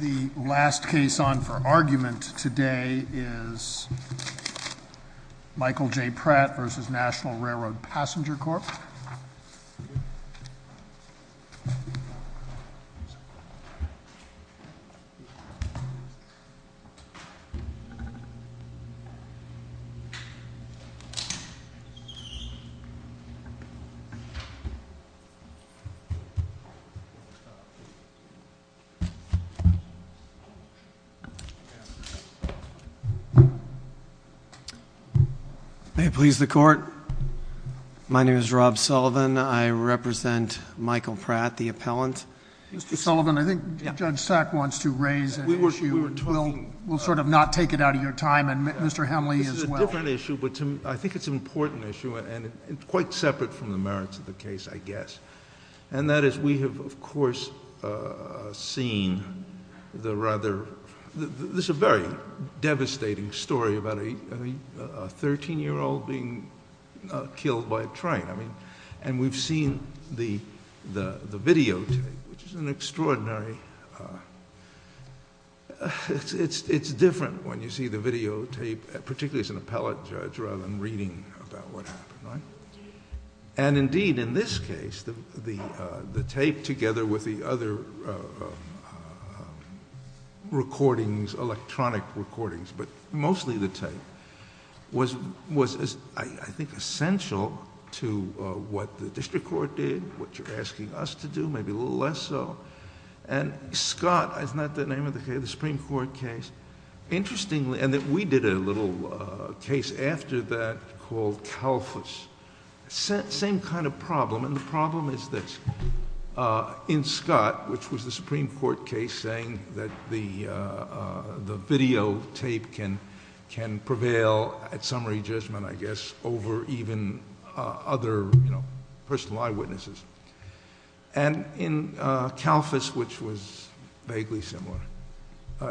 The last case on for argument today is Michael J. Pratt v. National Railroad Passenger Corp. May it please the court, my name is Rob Sullivan. I represent Michael Pratt, the appellant. Mr. Sullivan, I think Judge Sack wants to raise an issue. We'll sort of not take it out of your time and Mr. Hemley as well. It's a different issue but I think it's an important issue and quite separate from the merits of the case I guess. And that is we have of course seen the rather, this is a very devastating story about a 13 year old being killed by a train. And we've seen the videotape which is an extraordinary, it's different when you see the videotape particularly as an appellate judge rather than reading about what happened. And indeed in this case the tape together with the other recordings, electronic recordings but mostly the tape was I think essential to what the district court did, what you're asking us to do, maybe a little less so. And Scott, isn't that the name of the case, the Supreme Court case, interestingly, and we did a little case after that called CALFUS. Same kind of problem and the problem is this. In Scott, which was the Supreme Court case saying that the videotape can prevail at summary judgment I guess over even other personal eyewitnesses. And in CALFUS, which was vaguely similar,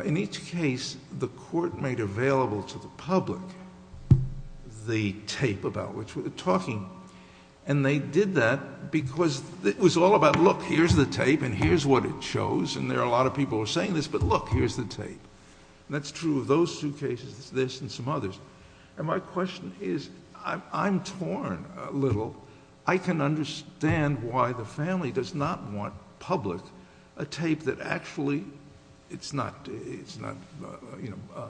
in each case the court made available to the public the tape about which we were talking. And they did that because it was all about look here's the tape and here's what it shows and there are a lot of people saying this but look here's the tape. And that's true of those two cases, this and some others. And my question is I'm torn a little. I can understand why the family does not want public a tape that actually it's not, you know,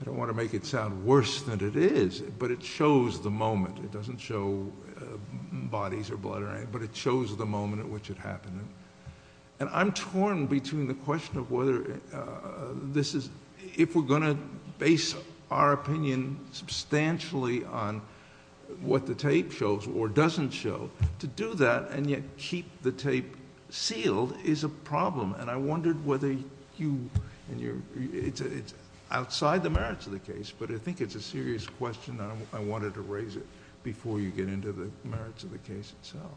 I don't want to make it sound worse than it is but it shows the moment. It doesn't show bodies or blood or anything but it shows the moment at which it happened. And I'm torn between the question of whether this is, if we're going to base our opinion substantially on what the tape shows or doesn't show, to do that and yet keep the tape sealed is a problem. And I wondered whether you and your, it's outside the merits of the case but I think it's a serious question and I wanted to raise it before you get into the merits of the case itself.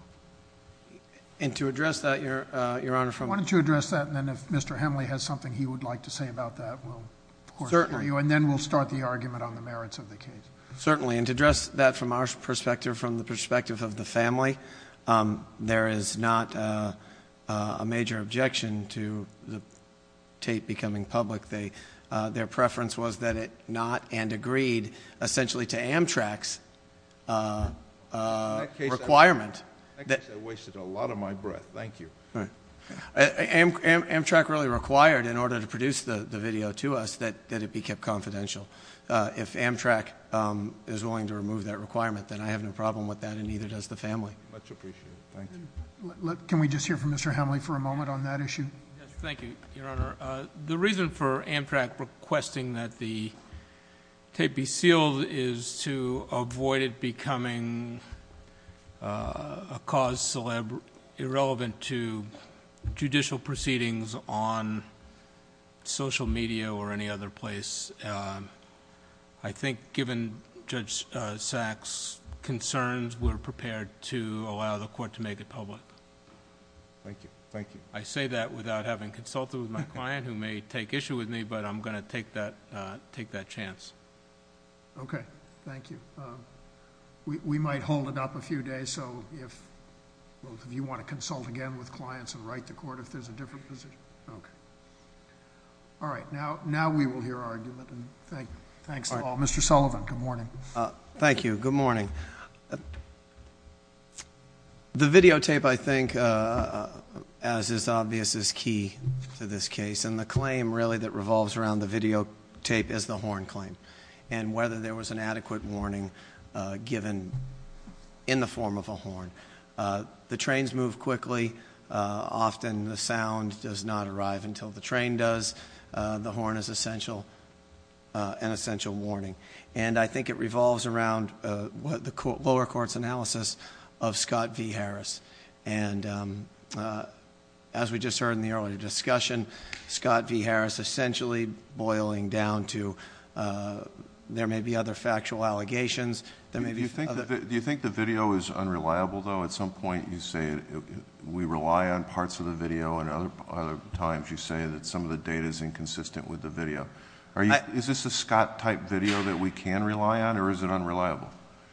And to address that, Your Honor, from... Why don't you address that and then if Mr. Hemley has something he would like to say about that we'll... Certainly. And then we'll start the argument on the merits of the case. Certainly. And to address that from our perspective, from the perspective of the family, there is not a major objection to the tape becoming public. Their preference was that it not and agreed essentially to Amtrak's requirement... In that case I wasted a lot of my breath. Thank you. Amtrak really required in order to produce the video to us that it be kept confidential. If Amtrak is willing to remove that requirement then I have no problem with that and neither does the family. Much appreciated. Thank you. Can we just hear from Mr. Hemley for a moment on that issue? Yes. Thank you, Your Honor. The reason for Amtrak requesting that the tape be sealed is to avoid it becoming a cause irrelevant to judicial proceedings on social media or any other place. I think given Judge Sack's concerns, we're prepared to allow the court to make it public. Thank you. Thank you. I say that without having consulted with my client who may take issue with me, but I'm going to take that chance. Okay. Thank you. We might hold it up a few days so if both of you want to consult again with clients and write to court if there's a different position. Okay. All right. Now we will hear our argument. Thanks to all. Mr. Sullivan, good morning. Thank you. Good morning. The videotape, I think, as is obvious, is key to this case. And the claim, really, that revolves around the videotape is the horn claim and whether there was an adequate warning given in the form of a horn. The trains move quickly. Often the sound does not arrive until the train does. The horn is an essential warning. And I think it revolves around the lower court's analysis of Scott V. Harris. And as we just heard in the earlier discussion, Scott V. Harris essentially boiling down to there may be other factual allegations. Do you think the video is unreliable, though? At some point you say we rely on parts of the video, and other times you say that some of the data is inconsistent with the video. Is this a Scott-type video that we can rely on, or is it unreliable?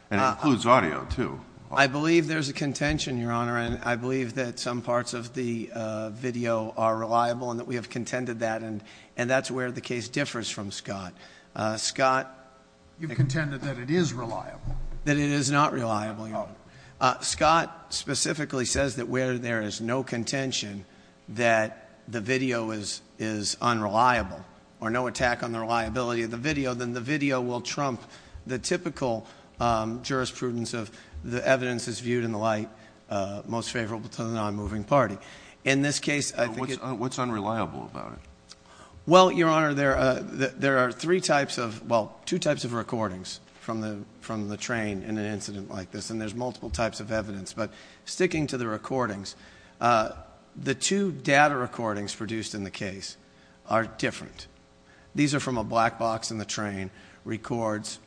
And it includes audio, too. I believe there's a contention, Your Honor, and I believe that some parts of the video are reliable and that we have contended that. And that's where the case differs from Scott. You've contended that it is reliable. That it is not reliable, Your Honor. Scott specifically says that where there is no contention that the video is unreliable or no attack on the reliability of the video, then the video will trump the typical jurisprudence of the evidence is viewed in the light most favorable to the non-moving party. In this case, I think it's... What's unreliable about it? Well, Your Honor, there are three types of, well, two types of recordings from the train in an incident like this, and there's multiple types of evidence, but sticking to the recordings, the two data recordings produced in the case are different. These are from a black box in the train, records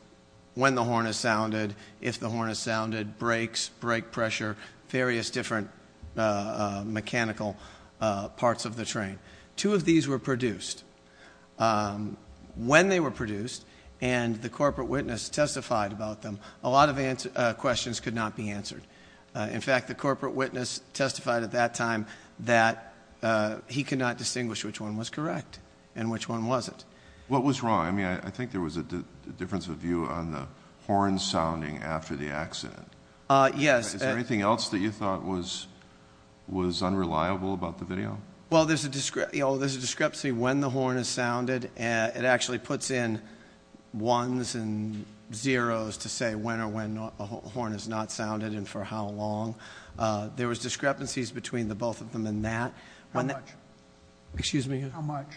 when the horn is sounded, if the horn is sounded, brakes, brake pressure, various different mechanical parts of the train. Two of these were produced. When they were produced and the corporate witness testified about them, a lot of questions could not be answered. In fact, the corporate witness testified at that time that he could not distinguish which one was correct and which one wasn't. What was wrong? I mean, I think there was a difference of view on the horn sounding after the accident. Yes. Is there anything else that you thought was unreliable about the video? Well, there's a discrepancy when the horn is sounded. It actually puts in ones and zeros to say when or when the horn is not sounded and for how long. There was discrepancies between the both of them in that. How much? Excuse me? How much?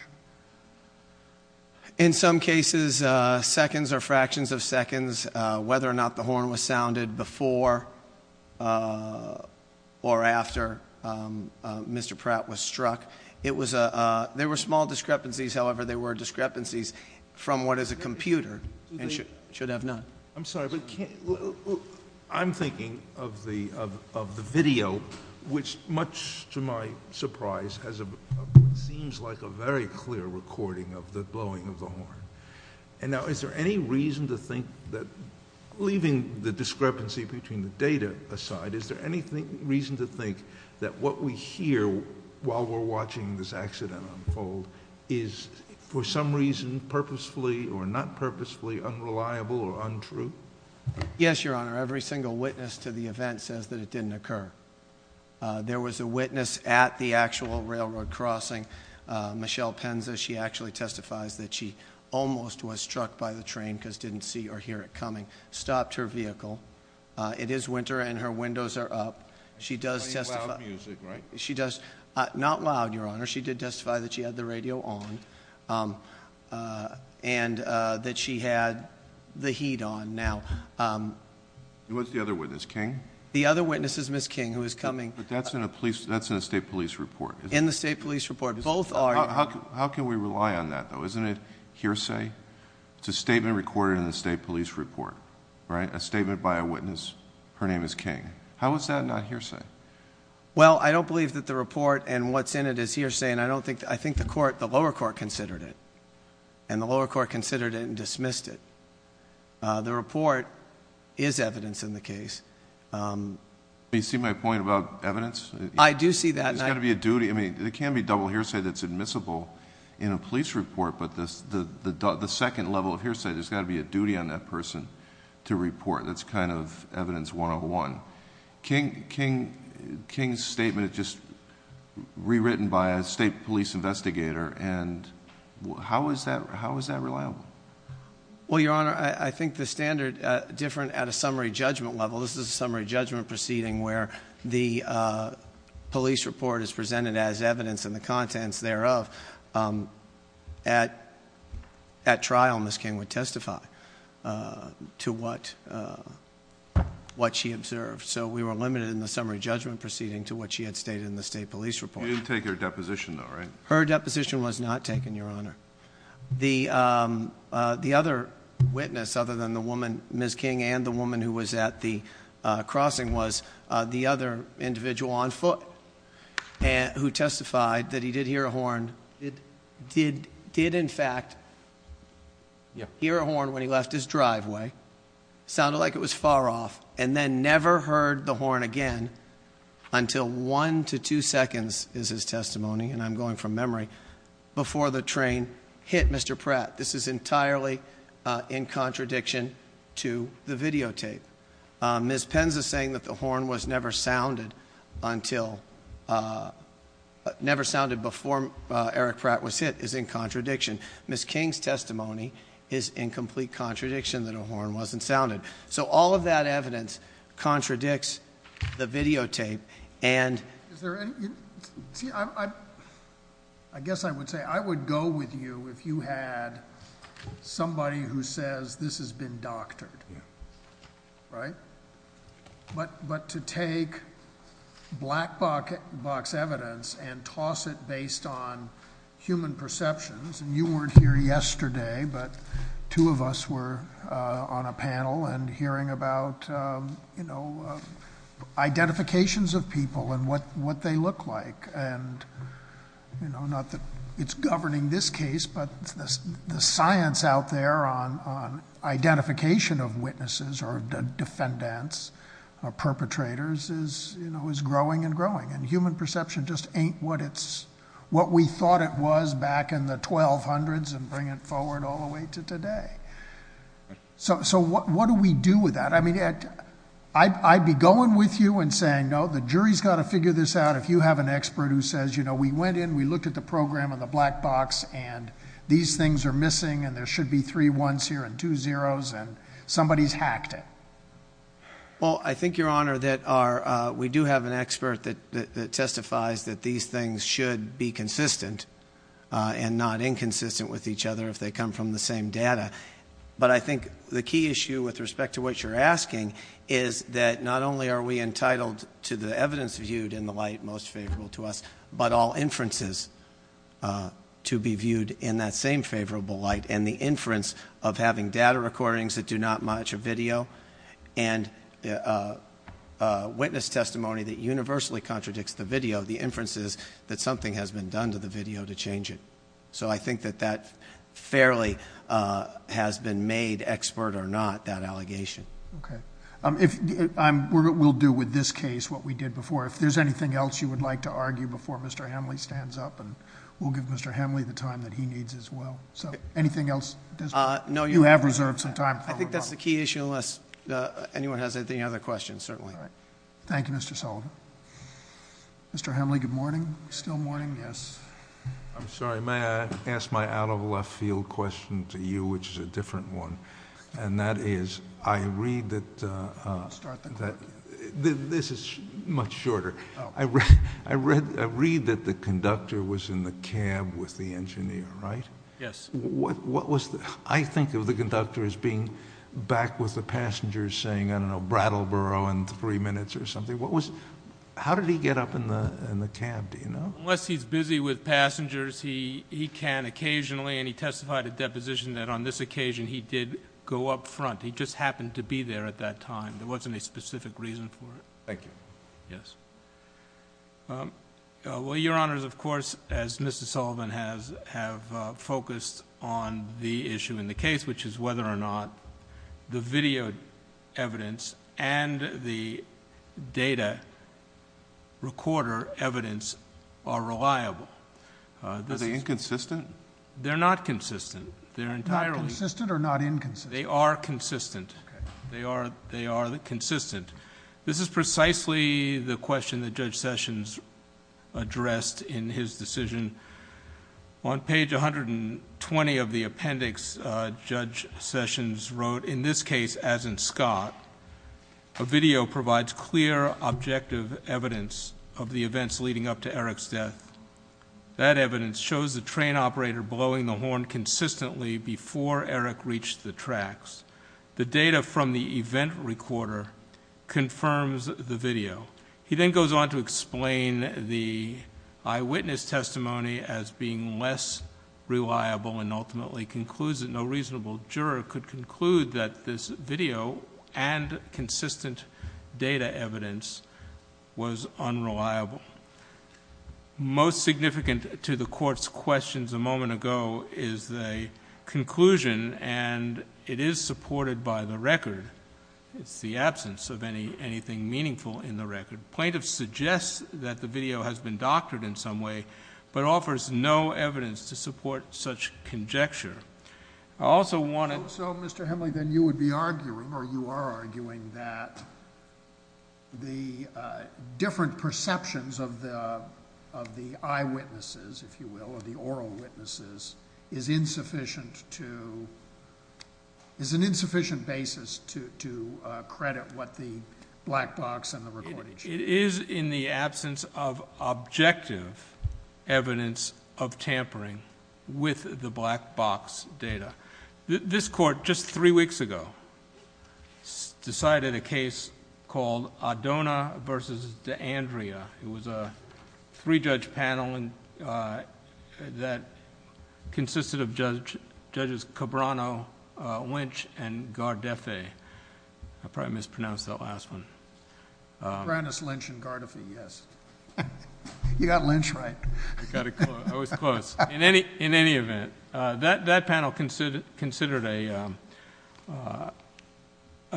In some cases, seconds or fractions of seconds, whether or not the horn was sounded before or after Mr. Pratt was struck. There were small discrepancies. However, there were discrepancies from what is a computer and should have not. I'm sorry, but I'm thinking of the video, which, much to my surprise, seems like a very clear recording of the blowing of the horn. And now, is there any reason to think that, leaving the discrepancy between the data aside, is there any reason to think that what we hear while we're watching this accident unfold is, for some reason, purposefully or not purposefully unreliable or untrue? Yes, Your Honor. Every single witness to the event says that it didn't occur. There was a witness at the actual railroad crossing, Michelle Penza. She actually testifies that she almost was struck by the train because she didn't see or hear it coming, stopped her vehicle. It is winter and her windows are up. She does testify. Playing loud music, right? She does. Not loud, Your Honor. She did testify that she had the radio on and that she had the heat on. What's the other witness, King? The other witness is Ms. King, who is coming. But that's in a state police report. In the state police report. Both are. How can we rely on that, though? Isn't it hearsay? It's a statement recorded in the state police report. A statement by a witness, her name is King. How is that not hearsay? Well, I don't believe that the report and what's in it is hearsay. I think the lower court considered it and the lower court considered it and dismissed it. The report is evidence in the case. Do you see my point about evidence? I do see that. There's got to be a duty. There can be double hearsay that's admissible in a police report, but the second level of hearsay, there's got to be a duty on that person to report. That's kind of evidence 101. King's statement is just rewritten by a state police investigator, and how is that reliable? Well, Your Honor, I think the standard, different at a summary judgment level, this is a summary judgment proceeding where the police report is presented as evidence and the contents thereof at trial, Ms. King would testify to what she observed. So we were limited in the summary judgment proceeding to what she had stated in the state police report. You didn't take her deposition, though, right? Her deposition was not taken, Your Honor. The other witness, other than the woman, Ms. King, and the woman who was at the crossing, was the other individual on foot who testified that he did hear a horn, did in fact hear a horn when he left his driveway, sounded like it was far off, and then never heard the horn again until one to two seconds is his testimony, and I'm going from memory, before the train hit Mr. Pratt. This is entirely in contradiction to the videotape. Ms. Penza saying that the horn was never sounded before Eric Pratt was hit is in contradiction. Ms. King's testimony is in complete contradiction that a horn wasn't sounded. So all of that evidence contradicts the videotape and- I guess I would say I would go with you if you had somebody who says this has been doctored, right? But to take black box evidence and toss it based on human perceptions, and you weren't here yesterday, but two of us were on a panel and hearing about identifications of people and what they look like, and it's governing this case, but the science out there on identification of witnesses or defendants or perpetrators is growing and growing, and human perception just ain't what we thought it was back in the 1200s and bring it forward all the way to today. So what do we do with that? I mean, I'd be going with you and saying, no, the jury's got to figure this out if you have an expert who says, you know, we went in, we looked at the program on the black box, and these things are missing, and there should be three ones here and two zeros, and somebody's hacked it. Well, I think, Your Honor, that we do have an expert that testifies that these things should be consistent and not inconsistent with each other if they come from the same data. But I think the key issue with respect to what you're asking is that not only are we entitled to the evidence viewed in the light most favorable to us, but all inferences to be viewed in that same favorable light, and the inference of having data recordings that do not match a video and witness testimony that universally contradicts the video, the inference is that something has been done to the video to change it. So I think that that fairly has been made expert or not, that allegation. Okay. We'll do with this case what we did before. If there's anything else you would like to argue before Mr. Hemley stands up, and we'll give Mr. Hemley the time that he needs as well. So anything else? You have reserved some time. I think that's the key issue unless anyone has any other questions, certainly. All right. Thank you, Mr. Sullivan. Mr. Hemley, good morning. Still morning? Yes. I'm sorry. May I ask my out-of-left-field question to you, which is a different one, and that is I read that the conductor was in the cab with the engineer, right? Yes. I think of the conductor as being back with the passenger saying, I don't know, Brattleboro in three minutes or something. How did he get up in the cab? Do you know? Unless he's busy with passengers, he can occasionally, and he testified at deposition that on this occasion he did go up front. He just happened to be there at that time. There wasn't a specific reason for it. Thank you. Yes. Well, Your Honors, of course, as Mr. Sullivan has, have focused on the issue in the case, which is whether or not the video evidence and the data recorder evidence are reliable. Are they inconsistent? They're not consistent. They're entirely... Not consistent or not inconsistent? They are consistent. Okay. They are consistent. This is precisely the question that Judge Sessions addressed in his decision. On page 120 of the appendix, Judge Sessions wrote, in this case, as in Scott, a video provides clear objective evidence of the events leading up to Eric's death. That evidence shows the train operator blowing the horn consistently before Eric reached the tracks. The data from the event recorder confirms the video. He then goes on to explain the eyewitness testimony as being less reliable and ultimately concludes that no reasonable juror could conclude that this video and consistent data evidence was unreliable. Most significant to the Court's questions a moment ago is the conclusion, and it is supported by the record. It's the absence of anything meaningful in the record. Plaintiff suggests that the video has been doctored in some way, but offers no evidence to support such conjecture. I also want to... So, Mr. Hemley, then you would be arguing, or you are arguing, that the different perceptions of the eyewitnesses, if you will, or the oral witnesses, is insufficient to... is an insufficient basis to credit what the black box and the recording show. It is in the absence of objective evidence of tampering with the black box data. This Court, just three weeks ago, decided a case called Adona v. D'Andrea. It was a three-judge panel that consisted of Judges Cabrano, Lynch, and Gardefe. I probably mispronounced that last one. Brownus, Lynch, and Gardefe, yes. You got Lynch right. I was close. In any event, that panel considered a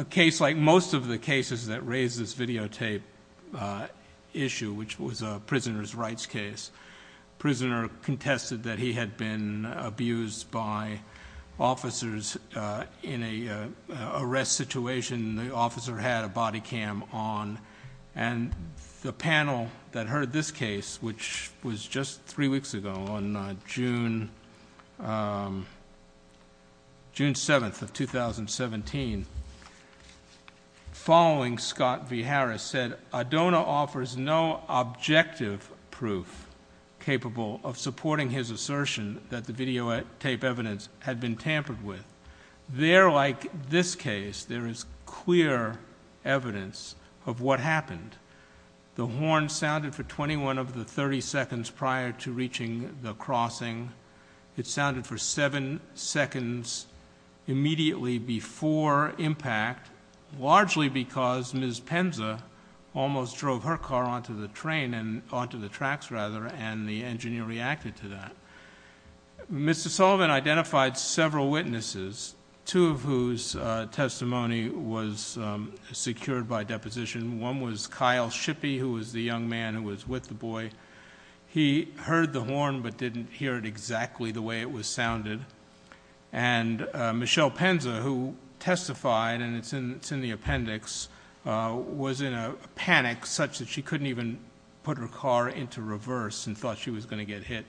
case like most of the cases that raise this videotape issue, which was a prisoner's rights case. The prisoner contested that he had been abused by officers in an arrest situation. The officer had a body cam on. The panel that heard this case, which was just three weeks ago, on June 7th of 2017, following Scott v. Harris, said, Adona offers no objective proof capable of supporting his assertion that the videotape evidence had been tampered with. There, like this case, there is clear evidence of what happened. The horn sounded for 21 of the 30 seconds prior to reaching the crossing. It sounded for seven seconds immediately before impact, largely because Ms. Penza almost drove her car onto the train, onto the tracks, rather, and the engineer reacted to that. Mr. Sullivan identified several witnesses, two of whose testimony was secured by deposition. One was Kyle Shippey, who was the young man who was with the boy. He heard the horn but didn't hear it exactly the way it was sounded. And Michelle Penza, who testified, and it's in the appendix, was in a panic such that she couldn't even put her car into reverse and thought she was going to get hit.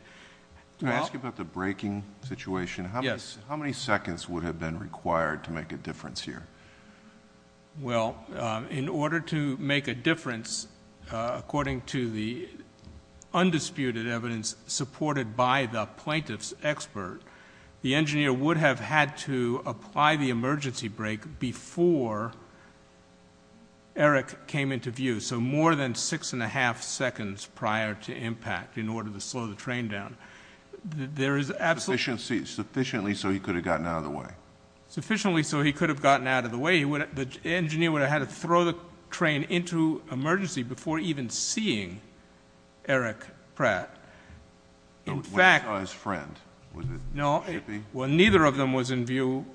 Can I ask you about the braking situation? Yes. How many seconds would have been required to make a difference here? Well, in order to make a difference, according to the undisputed evidence supported by the plaintiff's expert, the engineer would have had to apply the emergency brake before Eric came into view, so more than six and a half seconds prior to impact in order to slow the train down. There is absolutely... Sufficiently so he could have gotten out of the way. Sufficiently so he could have gotten out of the way. The engineer would have had to throw the train into emergency before even seeing Eric Pratt. When he saw his friend, was it Shippey? Well, neither of them was in view.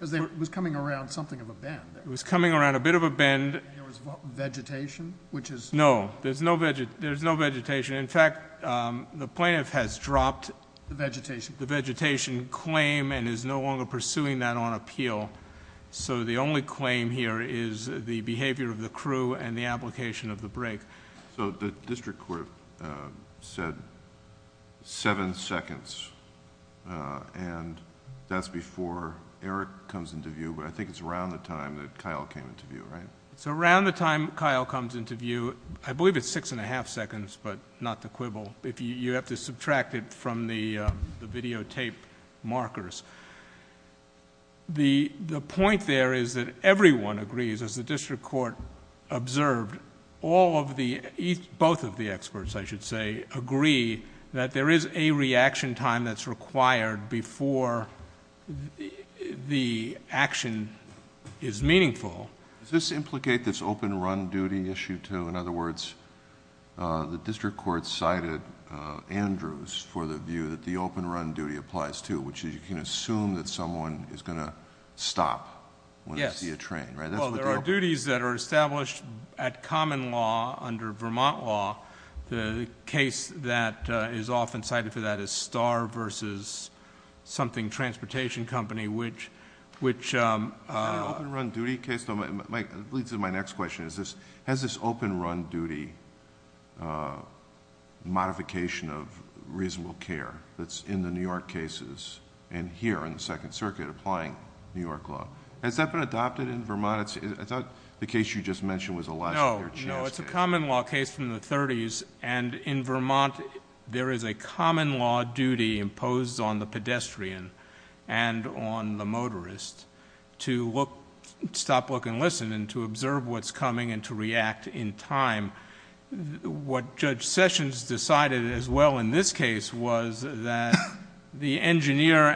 It was coming around something of a bend. It was coming around a bit of a bend. There was vegetation, which is... No, there's no vegetation. In fact, the plaintiff has dropped... The vegetation. The vegetation claim and is no longer pursuing that on appeal, so the only claim here is the behavior of the crew and the application of the brake. The district court said seven seconds, and that's before Eric comes into view, but I think it's around the time that Kyle came into view, right? It's around the time Kyle comes into view. I believe it's six and a half seconds, but not the quibble. You have to subtract it from the videotape markers. The point there is that everyone agrees, as the district court observed, both of the experts, I should say, agree that there is a reaction time that's required before the action is meaningful. Does this implicate this open run duty issue too? In other words, the district court cited Andrews for the view that the open run duty applies too, which is you can assume that someone is going to stop when they see a train, right? That's what they're... Yes. There are duties that are established at common law under Vermont law. The case that is often cited for that is Star versus something, Transportation Company, which... Is there an open run duty case? It leads to my next question. Has this open run duty modification of reasonable care that's in the New York cases and here in the Second Circuit applying New York law, has that been adopted in Vermont? I thought the case you just mentioned was a last year chance case. No. It's a common law case from the 30s. In Vermont, there is a common law duty imposed on the pedestrian and on the public who can listen and to observe what's coming and to react in time. What Judge Sessions decided as well in this case was that the engineer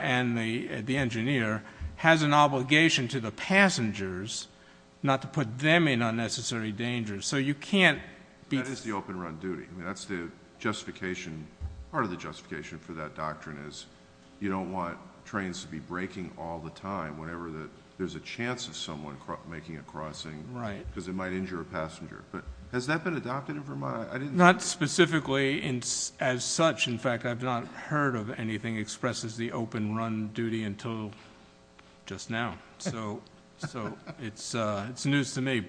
has an obligation to the passengers not to put them in unnecessary danger. You can't... That is the open run duty. That's the justification. Part of the justification for that doctrine is you don't want trains to be braking all the time whenever there's a chance of someone making a crossing because it might injure a passenger. Has that been adopted in Vermont? Not specifically as such. In fact, I've not heard of anything expresses the open run duty until just now. It's news to me.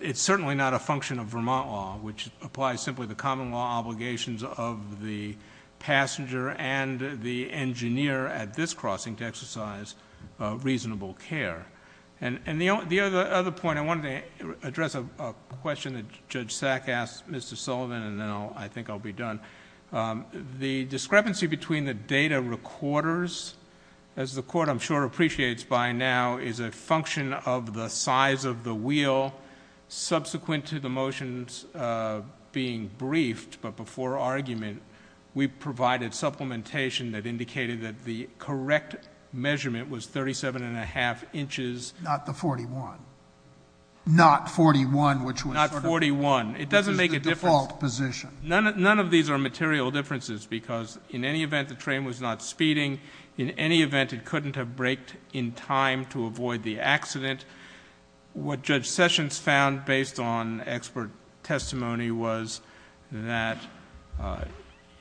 It's certainly not a function of Vermont law, which applies simply the common law obligations of the passenger and the engineer at this crossing to exercise reasonable care. The other point, I wanted to address a question that Judge Sack asked Mr. Sullivan and then I think I'll be done. The discrepancy between the data recorders, as the court I'm sure appreciates by now, is a function of the size of the wheel subsequent to the motions being briefed but before argument. We provided supplementation that indicated that the correct measurement was thirty-seven and a half inches... Not the forty-one. Not forty-one, which was... Not forty-one. It doesn't make a difference. Which is the default position. None of these are material differences because in any event the train was not speeding, in any event it couldn't have braked in time to avoid the accident. What Judge Sessions found based on expert testimony was that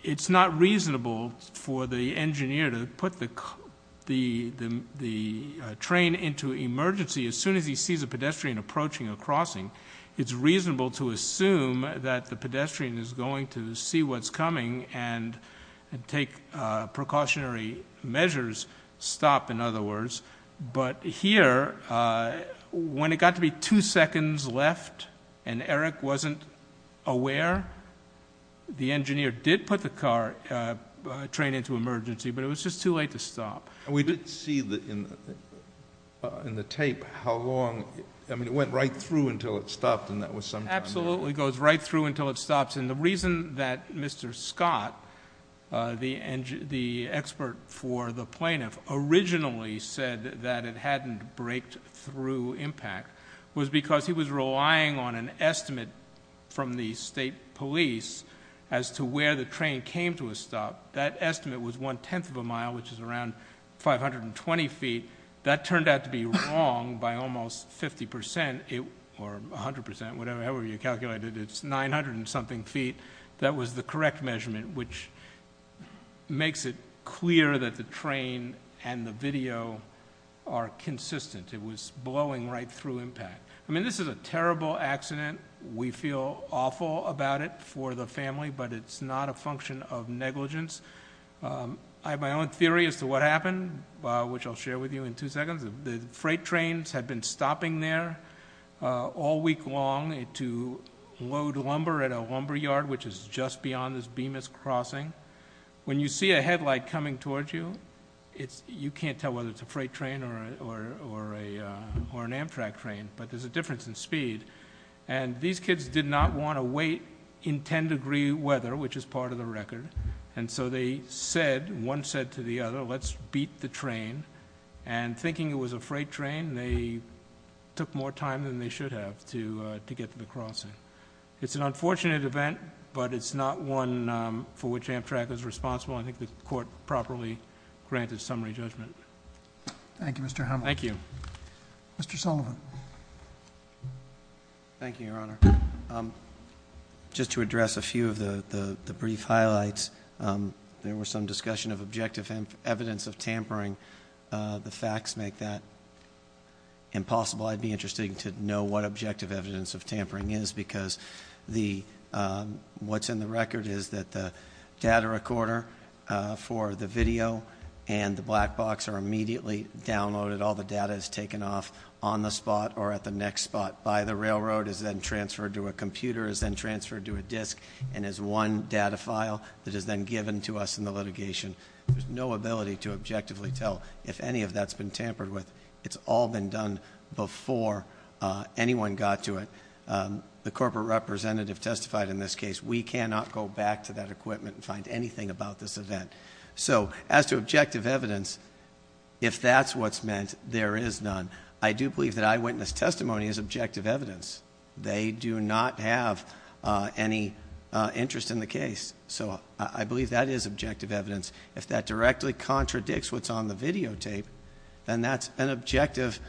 it's not reasonable for the engineer to put the train into emergency as soon as he sees a pedestrian approaching a crossing. It's reasonable to assume that the pedestrian is going to see what's coming and take precautionary measures, stop in other words. But here, when it got to be two seconds left and Eric wasn't aware, the engineer put the train into emergency but it was just too late to stop. We did see in the tape how long... I mean it went right through until it stopped and that was some time... Absolutely. It goes right through until it stops and the reason that Mr. Scott, the expert for the plaintiff, originally said that it hadn't braked through impact was because he was relying on an estimate from the state police as to where the train would stop. That estimate was one-tenth of a mile, which is around 520 feet. That turned out to be wrong by almost 50% or 100%, whatever you calculated. It's 900 and something feet. That was the correct measurement, which makes it clear that the train and the video are consistent. It was blowing right through impact. I mean this is a terrible accident. We feel awful about it for the family, but it's not a function of negligence. I have my own theory as to what happened, which I'll share with you in two seconds. The freight trains had been stopping there all week long to load lumber at a lumber yard, which is just beyond this Bemis Crossing. When you see a headlight coming towards you, you can't tell whether it's a headlight or not. These kids did not want to wait in 10-degree weather, which is part of the record. They said, one said to the other, let's beat the train. Thinking it was a freight train, they took more time than they should have to get to the crossing. It's an unfortunate event, but it's not one for which Amtrak is responsible. I think the court properly granted summary judgment. Thank you, Mr. Hamilton. Thank you. Mr. Sullivan. Thank you, Your Honor. Just to address a few of the brief highlights, there was some discussion of objective evidence of tampering. The facts make that impossible. I'd be interested to know what objective evidence of tampering is, because what's in the record is that the data recorder for the video and the black box are immediately downloaded. All the data is taken off on the spot or at the next spot by the railroad, is then transferred to a computer, is then transferred to a disk, and is one data file that is then given to us in the litigation. There's no ability to objectively tell if any of that's been tampered with. It's all been done before anyone got to it. The corporate representative testified in this case, we cannot go back to that equipment and find anything about this event. As to objective evidence, if that's what's meant, there is none. I do believe that eyewitness testimony is objective evidence. They do not have any interest in the case. I believe that is objective evidence. If that directly contradicts what's on the videotape, then that's an objective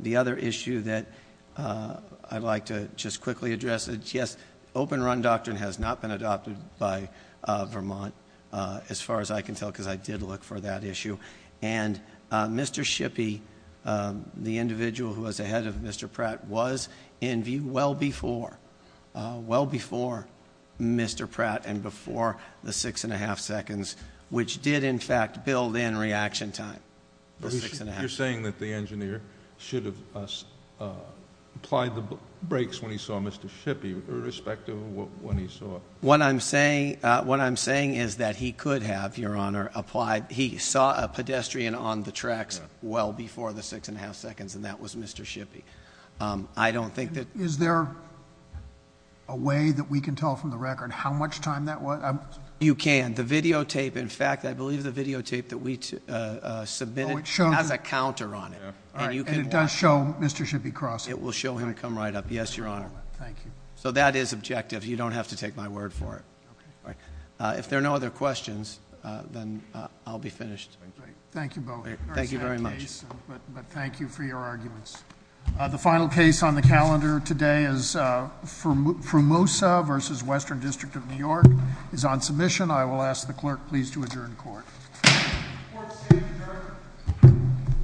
The other issue that I'd like to just quickly address is, yes, Open Run Doctrine has not been adopted by Vermont, as far as I can tell, because I did look for that issue, and Mr. Shippey, the individual who was ahead of Mr. Pratt, was in view well before, well before Mr. Pratt and before the six and a half seconds, which did, in fact, build in reaction time. The six and a half. You're saying that the engineer should have applied the brakes when he saw Mr. Shippey, irrespective of when he saw it. What I'm saying is that he could have, Your Honor, applied. He saw a pedestrian on the tracks well before the six and a half seconds, and that was Mr. Shippey. I don't think that- Is there a way that we can tell from the record how much time that was? You can. And the videotape, in fact, I believe the videotape that we submitted has a counter on it. And you can- And it does show Mr. Shippey crossing. It will show him come right up. Yes, Your Honor. Thank you. So that is objective. You don't have to take my word for it. If there are no other questions, then I'll be finished. Thank you both. Thank you very much. But thank you for your arguments. The final case on the calendar today is Frumosa versus Western District of New York is on submission. I will ask the clerk please to adjourn court. Court is adjourned.